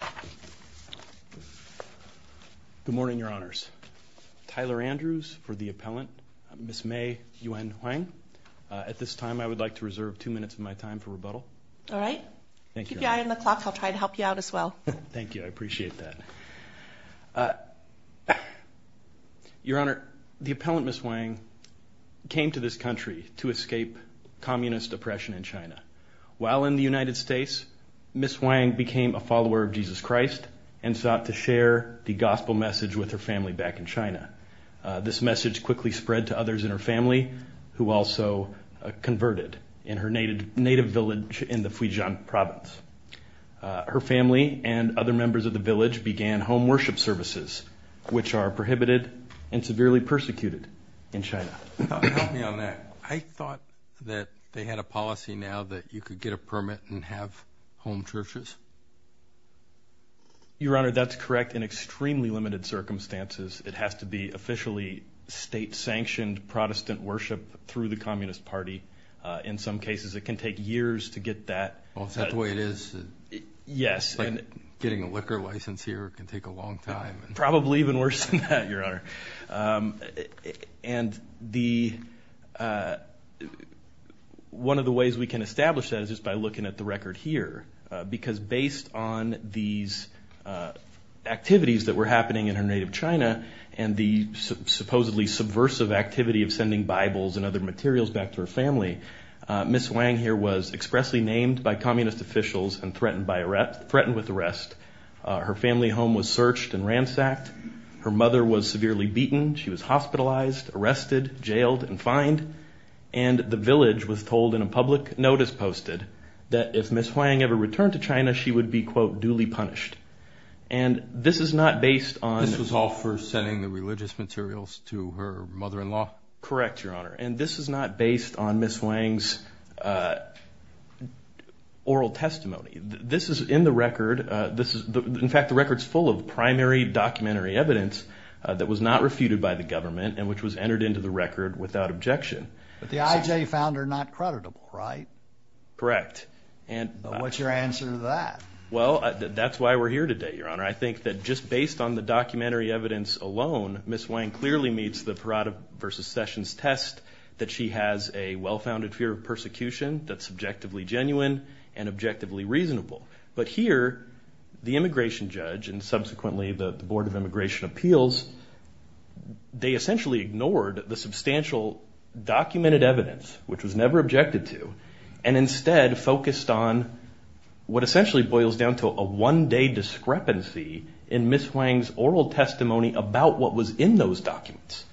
Good morning, Your Honors. Tyler Andrews for the appellant, Ms. May Yuen Huang. At this time, I would like to reserve two minutes of my time for rebuttal. All right. Keep your eye on the clock. I'll try to help you out as well. Thank you. I appreciate that. Your Honor, the appellant, Ms. Huang, came to this country to escape communist oppression in China. While in the United States, Ms. Huang became a follower of Jesus Christ and sought to share the gospel message with her family back in China. This message quickly spread to others in her family, who also converted in her native village in the Fujian province. Her family and other members of the village began home worship services, which are prohibited and severely persecuted in China. Help me on that. I thought that they had a policy now that you could get a permit and have home churches. Your Honor, that's correct in extremely limited circumstances. It has to be officially state-sanctioned Protestant worship through the Communist Party. In some cases, it can take years to get that. Is that the way it is? Yes. Getting a liquor license here can take a long time. Probably even worse than that, Your Honor. One of the ways we can establish that is just by looking at the record here. Because based on these activities that were happening in her native China and the supposedly subversive activity of sending Bibles and other materials back to her family, Ms. Huang here was expressly named by communist officials and threatened with arrest. Her family home was searched and ransacked. Her mother was severely beaten. She was hospitalized, arrested, jailed, and fined. The village was told in a public notice posted that if Ms. Huang ever returned to China, she would be, quote, duly punished. This was all for sending the religious materials to her mother-in-law? Correct, Your Honor. This is not based on Ms. Huang's oral testimony. This is in the record. In fact, the record is full of primary documentary evidence that was not refuted by the government and which was entered into the record without objection. But the IJ found her not creditable, right? Correct. What's your answer to that? Well, that's why we're here today, Your Honor. I think that just based on the documentary evidence alone, Ms. Huang clearly meets the Parada versus Sessions test that she has a well-founded fear of persecution that's subjectively genuine and objectively reasonable. But here, the immigration judge and subsequently the Board of Immigration Appeals, they essentially ignored the substantial documented evidence, which was never objected to, and instead focused on what essentially boils down to a one-day discrepancy in Ms. Huang's oral testimony about what was in those documents.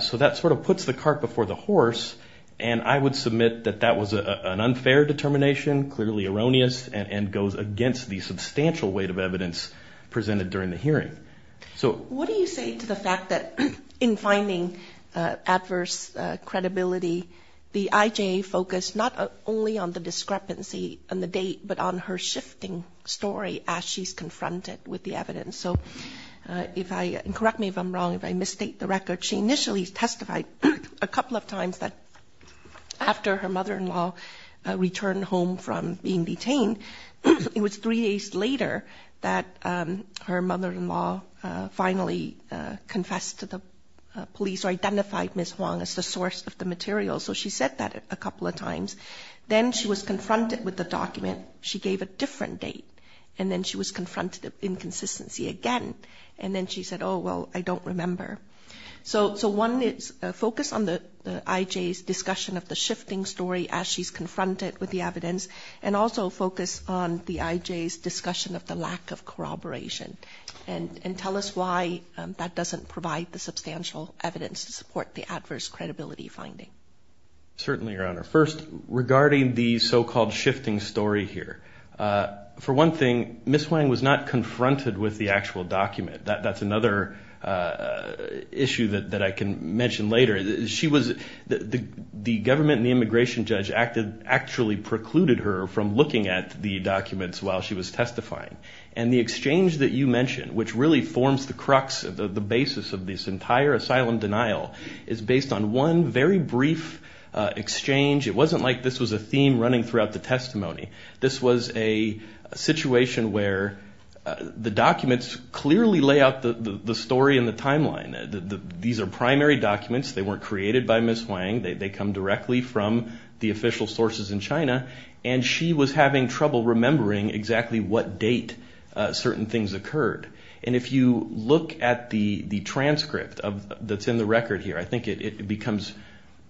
So that sort of puts the cart before the horse, and I would submit that that was an unfair determination, clearly erroneous, and goes against the substantial weight of evidence presented during the hearing. What do you say to the fact that in finding adverse credibility, the IJ focused not only on the discrepancy and the date, but on her shifting story as she's confronted with the evidence? So if I, and correct me if I'm wrong, if I misstate the record, she initially testified a couple of times that after her mother-in-law returned home from being detained, it was three days later that her mother-in-law finally confessed to the police or identified Ms. Huang as the source of the material, so she said that a couple of times. Then she was confronted with the document, she gave a different date, and then she was confronted with inconsistency again, and then she said, oh, well, I don't remember. So one is focus on the IJ's discussion of the shifting story as she's confronted with the evidence, and also focus on the IJ's discussion of the lack of corroboration, and tell us why that doesn't provide the substantial evidence to support the adverse credibility finding. Certainly, Your Honor. First, regarding the so-called shifting story here, for one thing, Ms. Huang was not confronted with the actual document. That's another issue that I can address. The government and the immigration judge actually precluded her from looking at the documents while she was testifying, and the exchange that you mentioned, which really forms the crux, the basis of this entire asylum denial, is based on one very brief exchange. It wasn't like this was a theme running throughout the testimony. This was a situation where the documents clearly lay out the story and the timeline. These are exactly from the official sources in China, and she was having trouble remembering exactly what date certain things occurred. If you look at the transcript that's in the record here, I think it becomes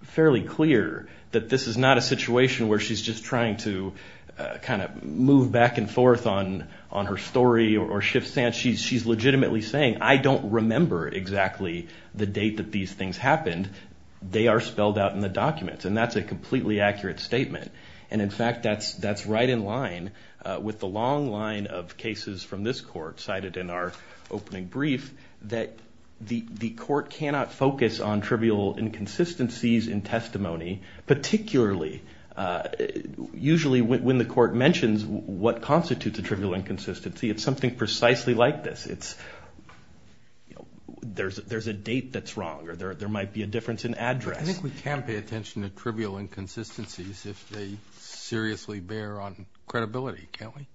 fairly clear that this is not a situation where she's just trying to move back and forth on her story or shift stance. She's legitimately saying, I don't remember exactly the date that these things happened. They are spelled out in the documents, and that's a completely accurate statement. In fact, that's right in line with the long line of cases from this court, cited in our opening brief, that the court cannot focus on trivial inconsistencies in testimony, particularly, usually, when the court mentions what constitutes a trivial inconsistency, it's something precisely like this. There's a date that's wrong, or there might be a difference in address. I think we can pay attention to trivial inconsistencies if they seriously bear on credibility, can't we?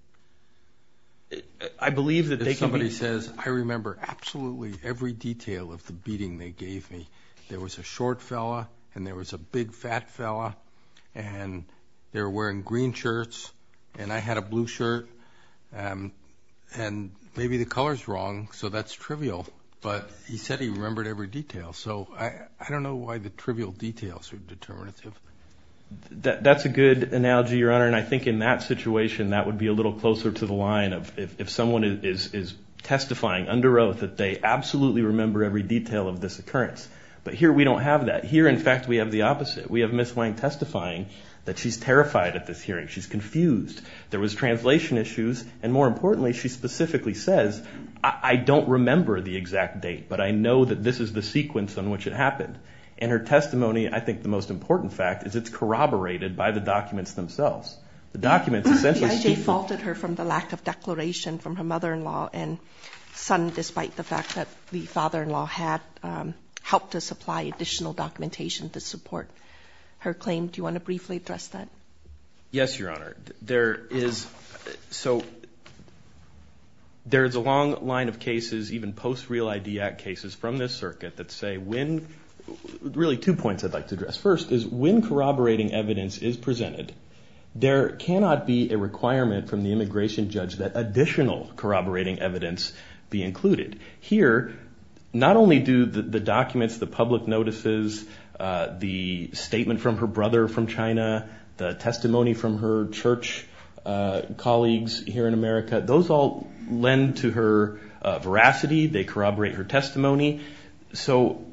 I believe that they can be. If somebody says, I remember absolutely every detail of the beating they gave me. There was a short fella, and there was a big fat fella, and they were wearing green shirts, and I had a blue shirt, and maybe the color's wrong, so that's trivial, but he said he remembered every detail, so I don't know why the trivial details are determinative. That's a good analogy, Your Honor, and I think in that situation that would be a little closer to the line of if someone is testifying under oath that they absolutely remember every detail of this occurrence, but here we don't have that. Here, in fact, we have the opposite. We have Ms. Wang testifying that she's terrified at this hearing. She's confused. There was translation issues, and more importantly, she specifically says, I don't remember the exact date, but I know that this is the sequence on which it happened, and her testimony, I think the most important fact is it's corroborated by the documents themselves. The documents essentially speak for themselves. The IJ faulted her from the lack of declaration from her mother-in-law and son, despite the fact that the father-in-law had helped to supply additional documentation to support her claim. Do you want to briefly address that? Yes, Your Honor. There is a long line of cases, even post-Real ID Act cases from this circuit that say when, really two points I'd like to address. First is when corroborating evidence is presented, there cannot be a requirement from the immigration judge that additional measures, not only do the documents, the public notices, the statement from her brother from China, the testimony from her church colleagues here in America, those all lend to her veracity. They corroborate her testimony. So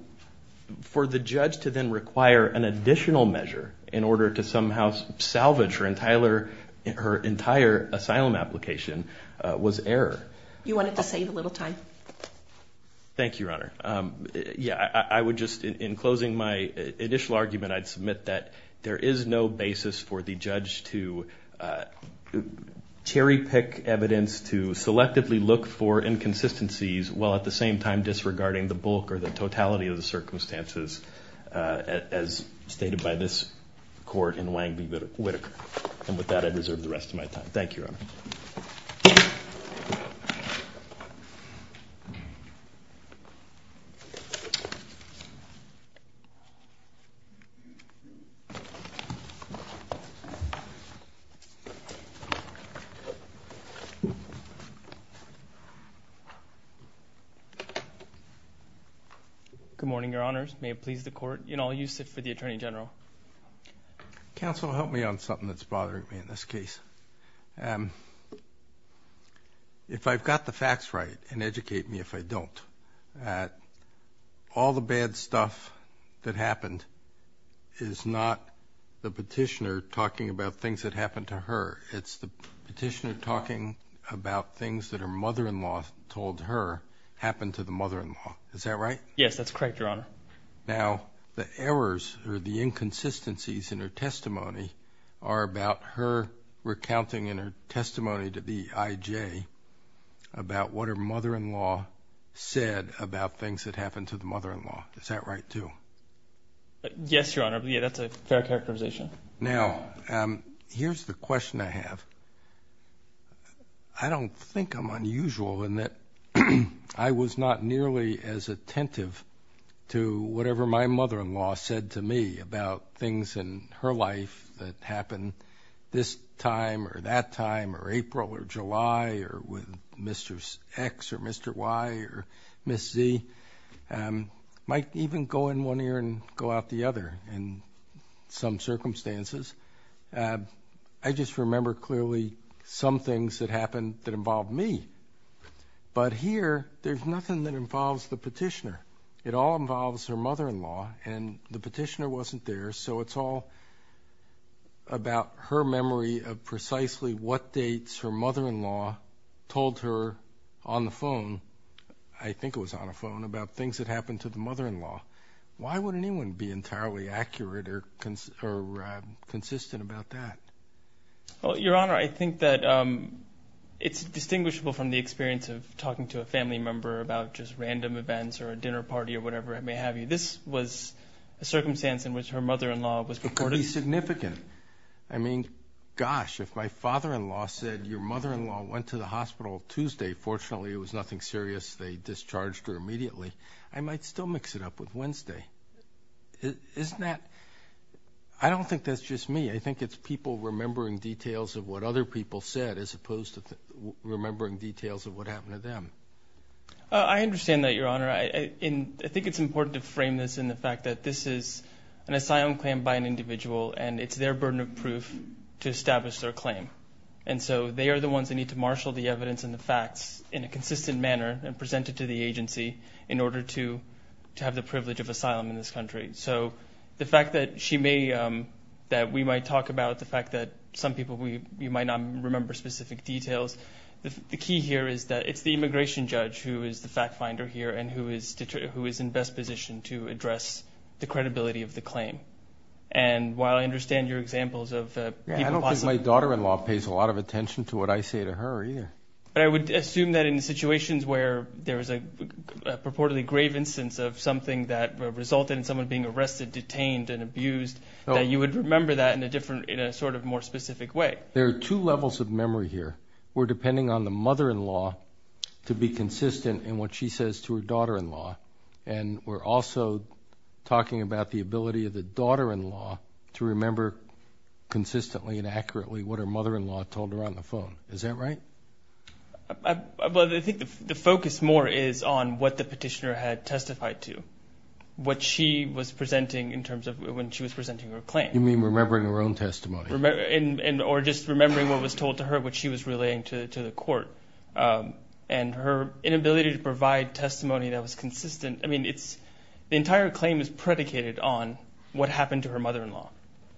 for the judge to then require an additional measure in order to somehow salvage her entire asylum application was error. You wanted to save a little time. Thank you, Your Honor. In closing my initial argument, I'd submit that there is no basis for the judge to cherry pick evidence to selectively look for inconsistencies while at the same time disregarding the bulk or the totality of the circumstances as stated by this court in Wang v. Whitaker. And with that I reserve the rest of my time. Thank you, Your Honor. Good morning, Your Honors. May it please the Court, in all you sit for the Attorney General. Counsel, help me on something that's bothering me in this case. If I've got the facts right and educate me if I don't, all the bad stuff that happened is not the petitioner talking about things that happened to her. It's the petitioner talking about things that her mother-in-law told her happened to the mother-in-law. Is that right? Yes, that's correct, Your Honor. Now, the errors or the inconsistencies in her testimony are about her recounting in her testimony to the I.J. about what her mother-in-law said about things that happened to the mother-in-law. Is that right, too? Yes, Your Honor. Yeah, that's a fair characterization. Now, here's the question I have. I don't think I'm unusual in that I was not nearly as attentive to whatever my mother-in-law said to me about things in her life that happened this time or that time or April or July or with Mr. X or Mr. Y or Ms. Z. I might even go in one ear and go out the other in some circumstances. I just remember clearly some things that happened that involved me. But here, there's nothing that involves the petitioner. It all involves her mother-in-law, and the petitioner wasn't there, so it's all about her memory of precisely what dates her mother-in-law told her on the phone. I think it was on a phone about things that happened to the mother-in-law. Why would anyone be entirely accurate or consistent about that? Well, Your Honor, I think that it's distinguishable from the experience of talking to a family member about just random events or a dinner party or whatever it may have been. This was a circumstance in which her mother-in-law was reported. Pretty significant. I mean, gosh, if my father-in-law said your mother-in-law went to the hospital Tuesday, fortunately it was nothing serious. They discharged her immediately. I might still mix it up with Wednesday. Isn't that... I don't think that's just me. I think it's people remembering details of what other people said as opposed to remembering details of what happened to them. I understand that, Your Honor. I think it's important to frame this in the fact that this is an asylum claim by an individual, and it's their burden of proof to establish their claim. And so they are the ones that need to marshal the evidence and the facts in a consistent manner and present it to the agency in order to have the privilege of asylum in this country. So the fact that we might talk about the fact that some people, you might not remember specific details, the key here is that it's the immigration judge who is the fact finder here and who is in best position to address the credibility of the claim. And while I understand your examples of people possibly... I don't think my daughter-in-law pays a lot of attention to what I say to her either. But I would assume that in situations where there is a purportedly grave instance of something that resulted in someone being arrested, detained, and abused, that you would remember that in a different, in a sort of more specific way. There are two levels of memory here. We're depending on the mother-in-law to be consistent in what she says to her daughter-in-law. And we're also talking about the ability of the daughter-in-law to remember consistently and accurately what her mother-in-law told her on the phone. Is that right? Well, I think the focus more is on what the petitioner had testified to, what she was presenting in terms of when she was presenting her claim. You mean remembering her own testimony? Or just remembering what was told to her, what she was relaying to the court. And her inability to provide testimony that was consistent, I mean, the entire claim is predicated on what happened to her mother-in-law.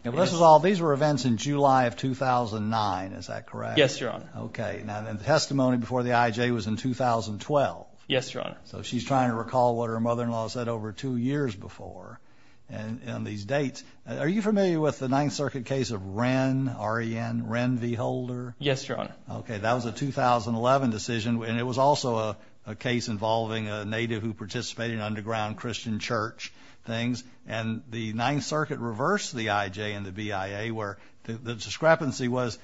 And this is all, these were events in July of 2009, is that correct? Yes, Your Honor. Okay, and the testimony before the IJ was in 2012. Yes, Your Honor. So she's trying to recall what her mother-in-law said over two years before on these dates. Are you familiar with the Ninth Circuit case of Wren, R-E-N, Wren v. Holder? Yes, Your Honor. Okay, that was a 2011 decision, and it was also a case involving a native who participated in underground Christian church things. And the Ninth Circuit reversed the IJ and the BIA where the discrepancy was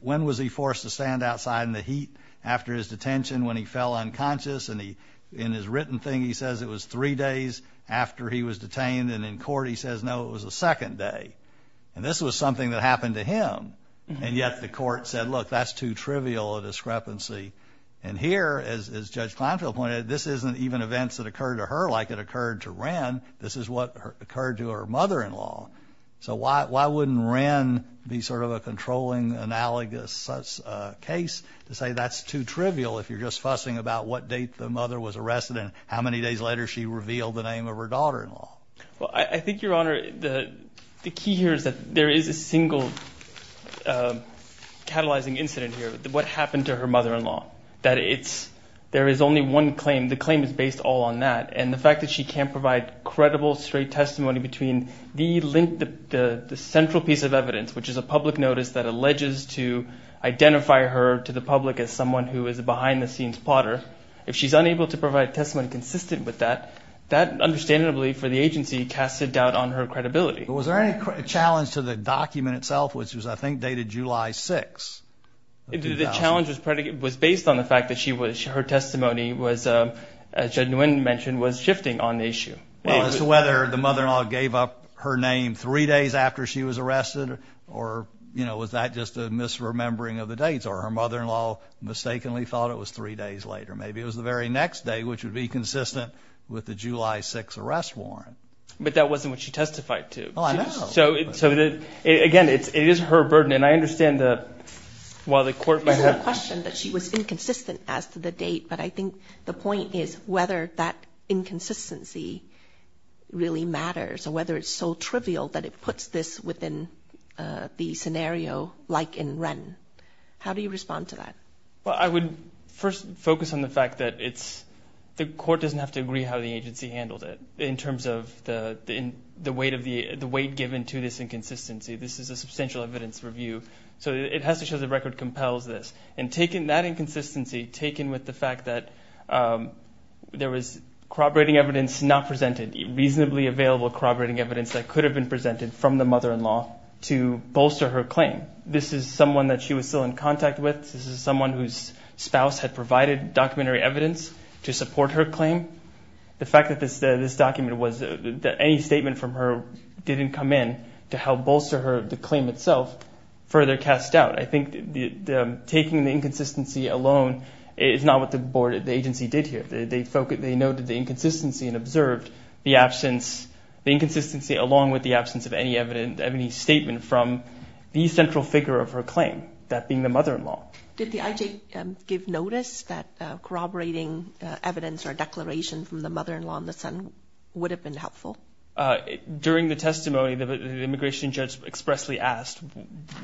when was he forced to stand outside in the heat after his detention when he fell unconscious, and in his written thing he says it was three days after he was detained, and in court he says, no, it was the second day. And this was something that happened to him. And yet the court said, look, that's too trivial a discrepancy. And here, as Judge Kleinfeld pointed out, this isn't even events that occurred to her like it occurred to Wren. This is what occurred to her mother-in-law. So why wouldn't Wren be sort of a controlling, analogous case to say that's too trivial if you're just fussing about what date the mother was arrested and how many days later she revealed the name of her daughter-in-law? Well, I think, Your Honor, the key here is that there is a single catalyzing incident here, what happened to her mother-in-law. There is only one claim. The claim is based all on that. And the fact that she can't provide credible, straight testimony between the link, the central piece of evidence, which is a public notice that alleges to identify her to the public as someone who is a behind-the-scenes plotter, if she's unable to provide testimony consistent with that, that, understandably, for the agency, casts a doubt on her credibility. Was there any challenge to the document itself, which was, I think, dated July 6, 2000? The challenge was based on the fact that her testimony was, as Judge Nguyen mentioned, was shifting on the issue. Well, as to whether the mother-in-law gave up her name three days after she was arrested, or, you know, was that just a misremembering of the dates, or her mother-in-law mistakenly thought it was three days later. Maybe it was the very next day, which would be consistent with the July 6 arrest warrant. But that wasn't what she testified to. Oh, I know. So, again, it is her burden. And I understand that while the court might have... It's not a question that she was inconsistent as to the date, but I think the point is whether that inconsistency really matters, or whether it's so trivial that it puts this within the scenario like in Wren. How do you respond to that? Well, I would first focus on the fact that it's the court doesn't have to agree how the agency handled it in terms of the weight given to this inconsistency. This is a substantial evidence review. So it has to show the record compels this. And taking that inconsistency, taking with the fact that there was corroborating evidence not presented, reasonably available corroborating evidence that could have been presented from the mother-in-law to bolster her claim. This is someone that she was still in contact with. This is someone whose spouse had provided documentary evidence to support her claim. The fact that this document was that any statement from her didn't come in to help bolster her claim itself further cast doubt. I think taking the inconsistency alone is not what the agency did here. They noted the inconsistency and observed the inconsistency along with the absence of any statement from the central figure of her claim, that being the mother-in-law. Did the IJ give notice that corroborating evidence or a declaration from the mother-in-law and the son would have been helpful? During the testimony, the immigration judge expressly asked,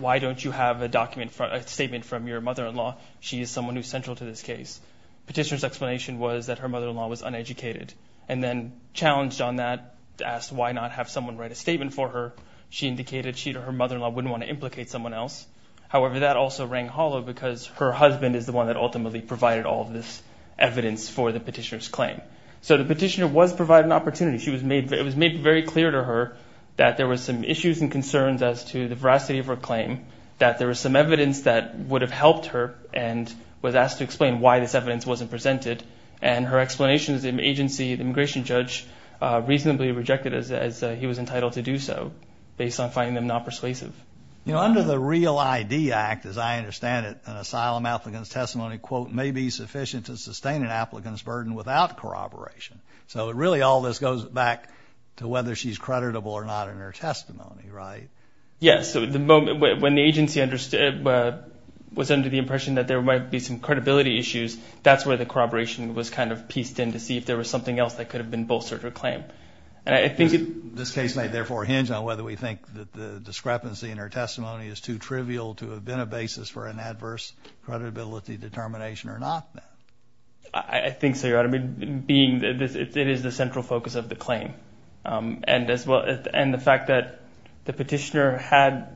why don't you have a statement from your mother-in-law? She is someone who is central to this case. Petitioner's explanation was that her mother-in-law was uneducated and then challenged on that, asked why not have someone write a statement for her. She indicated she or her mother-in-law wouldn't want to implicate someone else. However, that also rang hollow because her husband is the one that ultimately provided all of this evidence for the petitioner's claim. So the petitioner was provided an opportunity. It was made very clear to her that there were some issues and concerns as to the veracity of her claim, that there was some evidence that would have helped her and was asked to explain why this evidence wasn't presented. Her explanation is the agency, the immigration judge, reasonably rejected it as he was entitled to do so based on finding them not persuasive. You know, under the REAL ID Act, as I understand it, an asylum applicant's testimony, quote, may be sufficient to sustain an applicant's burden without corroboration. So really all this goes back to whether she's creditable or not in her testimony, right? Yes. When the agency was under the impression that there might be some credibility issues, that's where the corroboration was kind of pieced in to see if there was something else that could have been bolstered her claim. This case may therefore hinge on whether we think that the discrepancy in her testimony is too trivial to have been a basis for an adverse credibility determination or not. I think so, Your Honor. Being that it is the central focus of the claim and the fact that the petitioner had,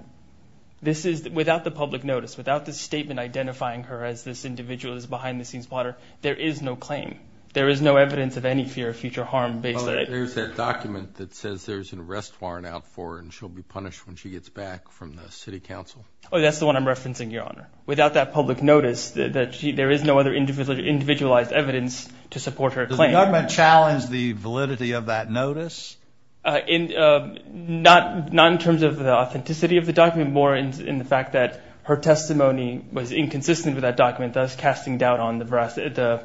this is without the public notice, without the statement identifying her as this individual, this behind-the-scenes plotter, there is no claim. There is no evidence of any fear of future harm based on it. There's that document that says there's an arrest warrant out for her and she'll be punished when she gets back from the city council. Oh, that's the one I'm referencing, Your Honor. Without that public notice, there is no other individualized evidence to support her claim. Does the government challenge the validity of that notice? Not in terms of the authenticity of the document, more in the fact that her testimony was inconsistent with that document, thus casting doubt on the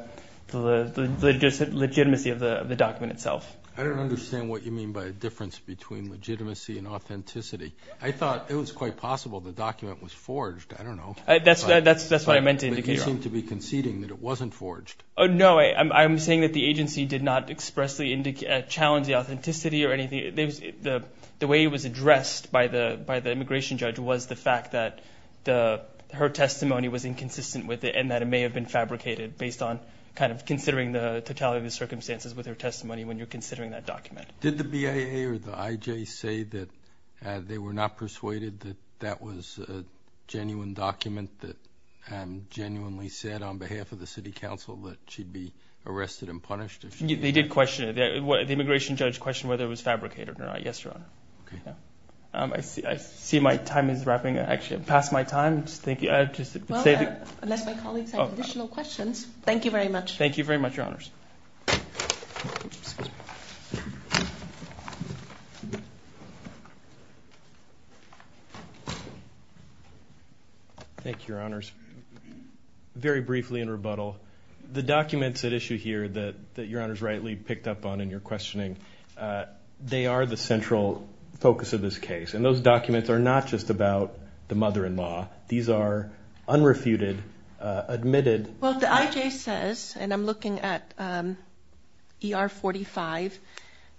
legitimacy of the document itself. I don't understand what you mean by a difference between legitimacy and authenticity. I thought it was quite possible the document was forged. I don't know. That's what I meant to indicate, Your Honor. But you seem to be conceding that it wasn't forged. No, I'm saying that the agency did not expressly challenge the authenticity or anything. The way it was addressed by the immigration judge was the fact that her testimony was inconsistent with it and that it may have been fabricated based on kind of considering the totality of the circumstances with her testimony when you're considering that document. Did the BAA or the IJ say that they were not persuaded that that was a genuine document that genuinely said on behalf of the city council that she'd be arrested and punished? They did question it. The immigration judge questioned whether it was fabricated or not. Yes, Your Honor. Okay. I see my time is wrapping up. Actually, I've passed my time. Thank you. Well, unless my colleagues have additional questions. Thank you very much. Thank you very much, Your Honors. Thank you, Your Honors. Very briefly in rebuttal, the documents at issue here that Your Honors rightly picked up on in your questioning, they are the central focus of this case. And those documents are not just about the mother-in-law. These are unrefuted, admitted. Well, the IJ says, and I'm looking at ER 45,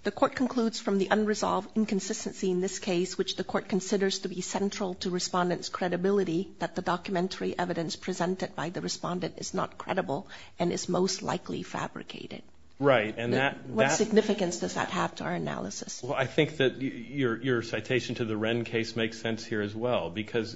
the court concludes from the unresolved inconsistency in this case, which the court considers to be central to respondents' credibility, that the documentary evidence presented by the respondent is not credible and is most likely fabricated. Right. What significance does that have to our analysis? Well, I think that your citation to the Wren case makes sense here as well because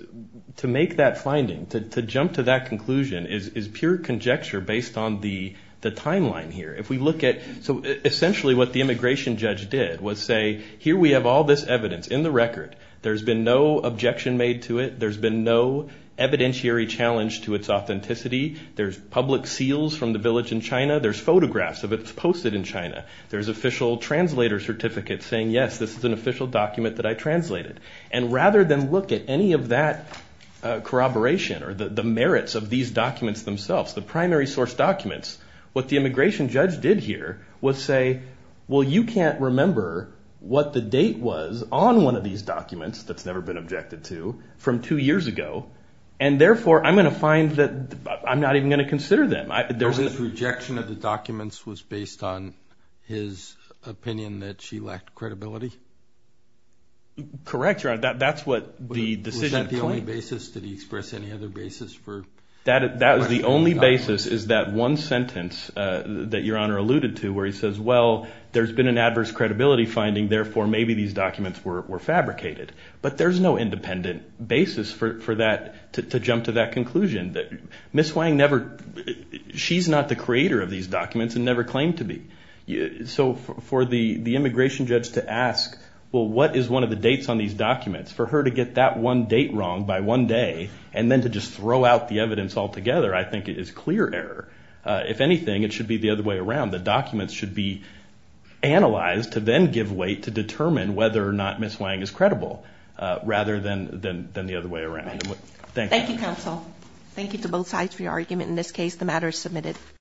to make that finding, to jump to that conclusion, is pure conjecture based on the timeline here. If we look at so essentially what the immigration judge did was say, here we have all this evidence in the record. There's been no objection made to it. There's been no evidentiary challenge to its authenticity. There's public seals from the village in China. There's photographs of it posted in China. There's official translator certificates saying, yes, this is an official document that I translated. And rather than look at any of that corroboration or the merits of these documents themselves, the primary source documents, what the immigration judge did here was say, well, you can't remember what the date was on one of these documents that's never been objected to from two years ago, and therefore I'm going to find that I'm not even going to consider them. His rejection of the documents was based on his opinion that she lacked credibility? Correct, Your Honor. Was that the only basis? Did he express any other basis for? The only basis is that one sentence that Your Honor alluded to where he says, well, there's been an adverse credibility finding, therefore maybe these documents were fabricated. But there's no independent basis for that to jump to that conclusion. Ms. Wang never – she's not the creator of these documents and never claimed to be. So for the immigration judge to ask, well, what is one of the dates on these documents, for her to get that one date wrong by one day and then to just throw out the evidence altogether I think is clear error. If anything, it should be the other way around. The documents should be analyzed to then give weight to determine whether or not Ms. Wang is credible rather than the other way around. Thank you. Thank you, counsel. Thank you to both sides for your argument. In this case, the matter is submitted.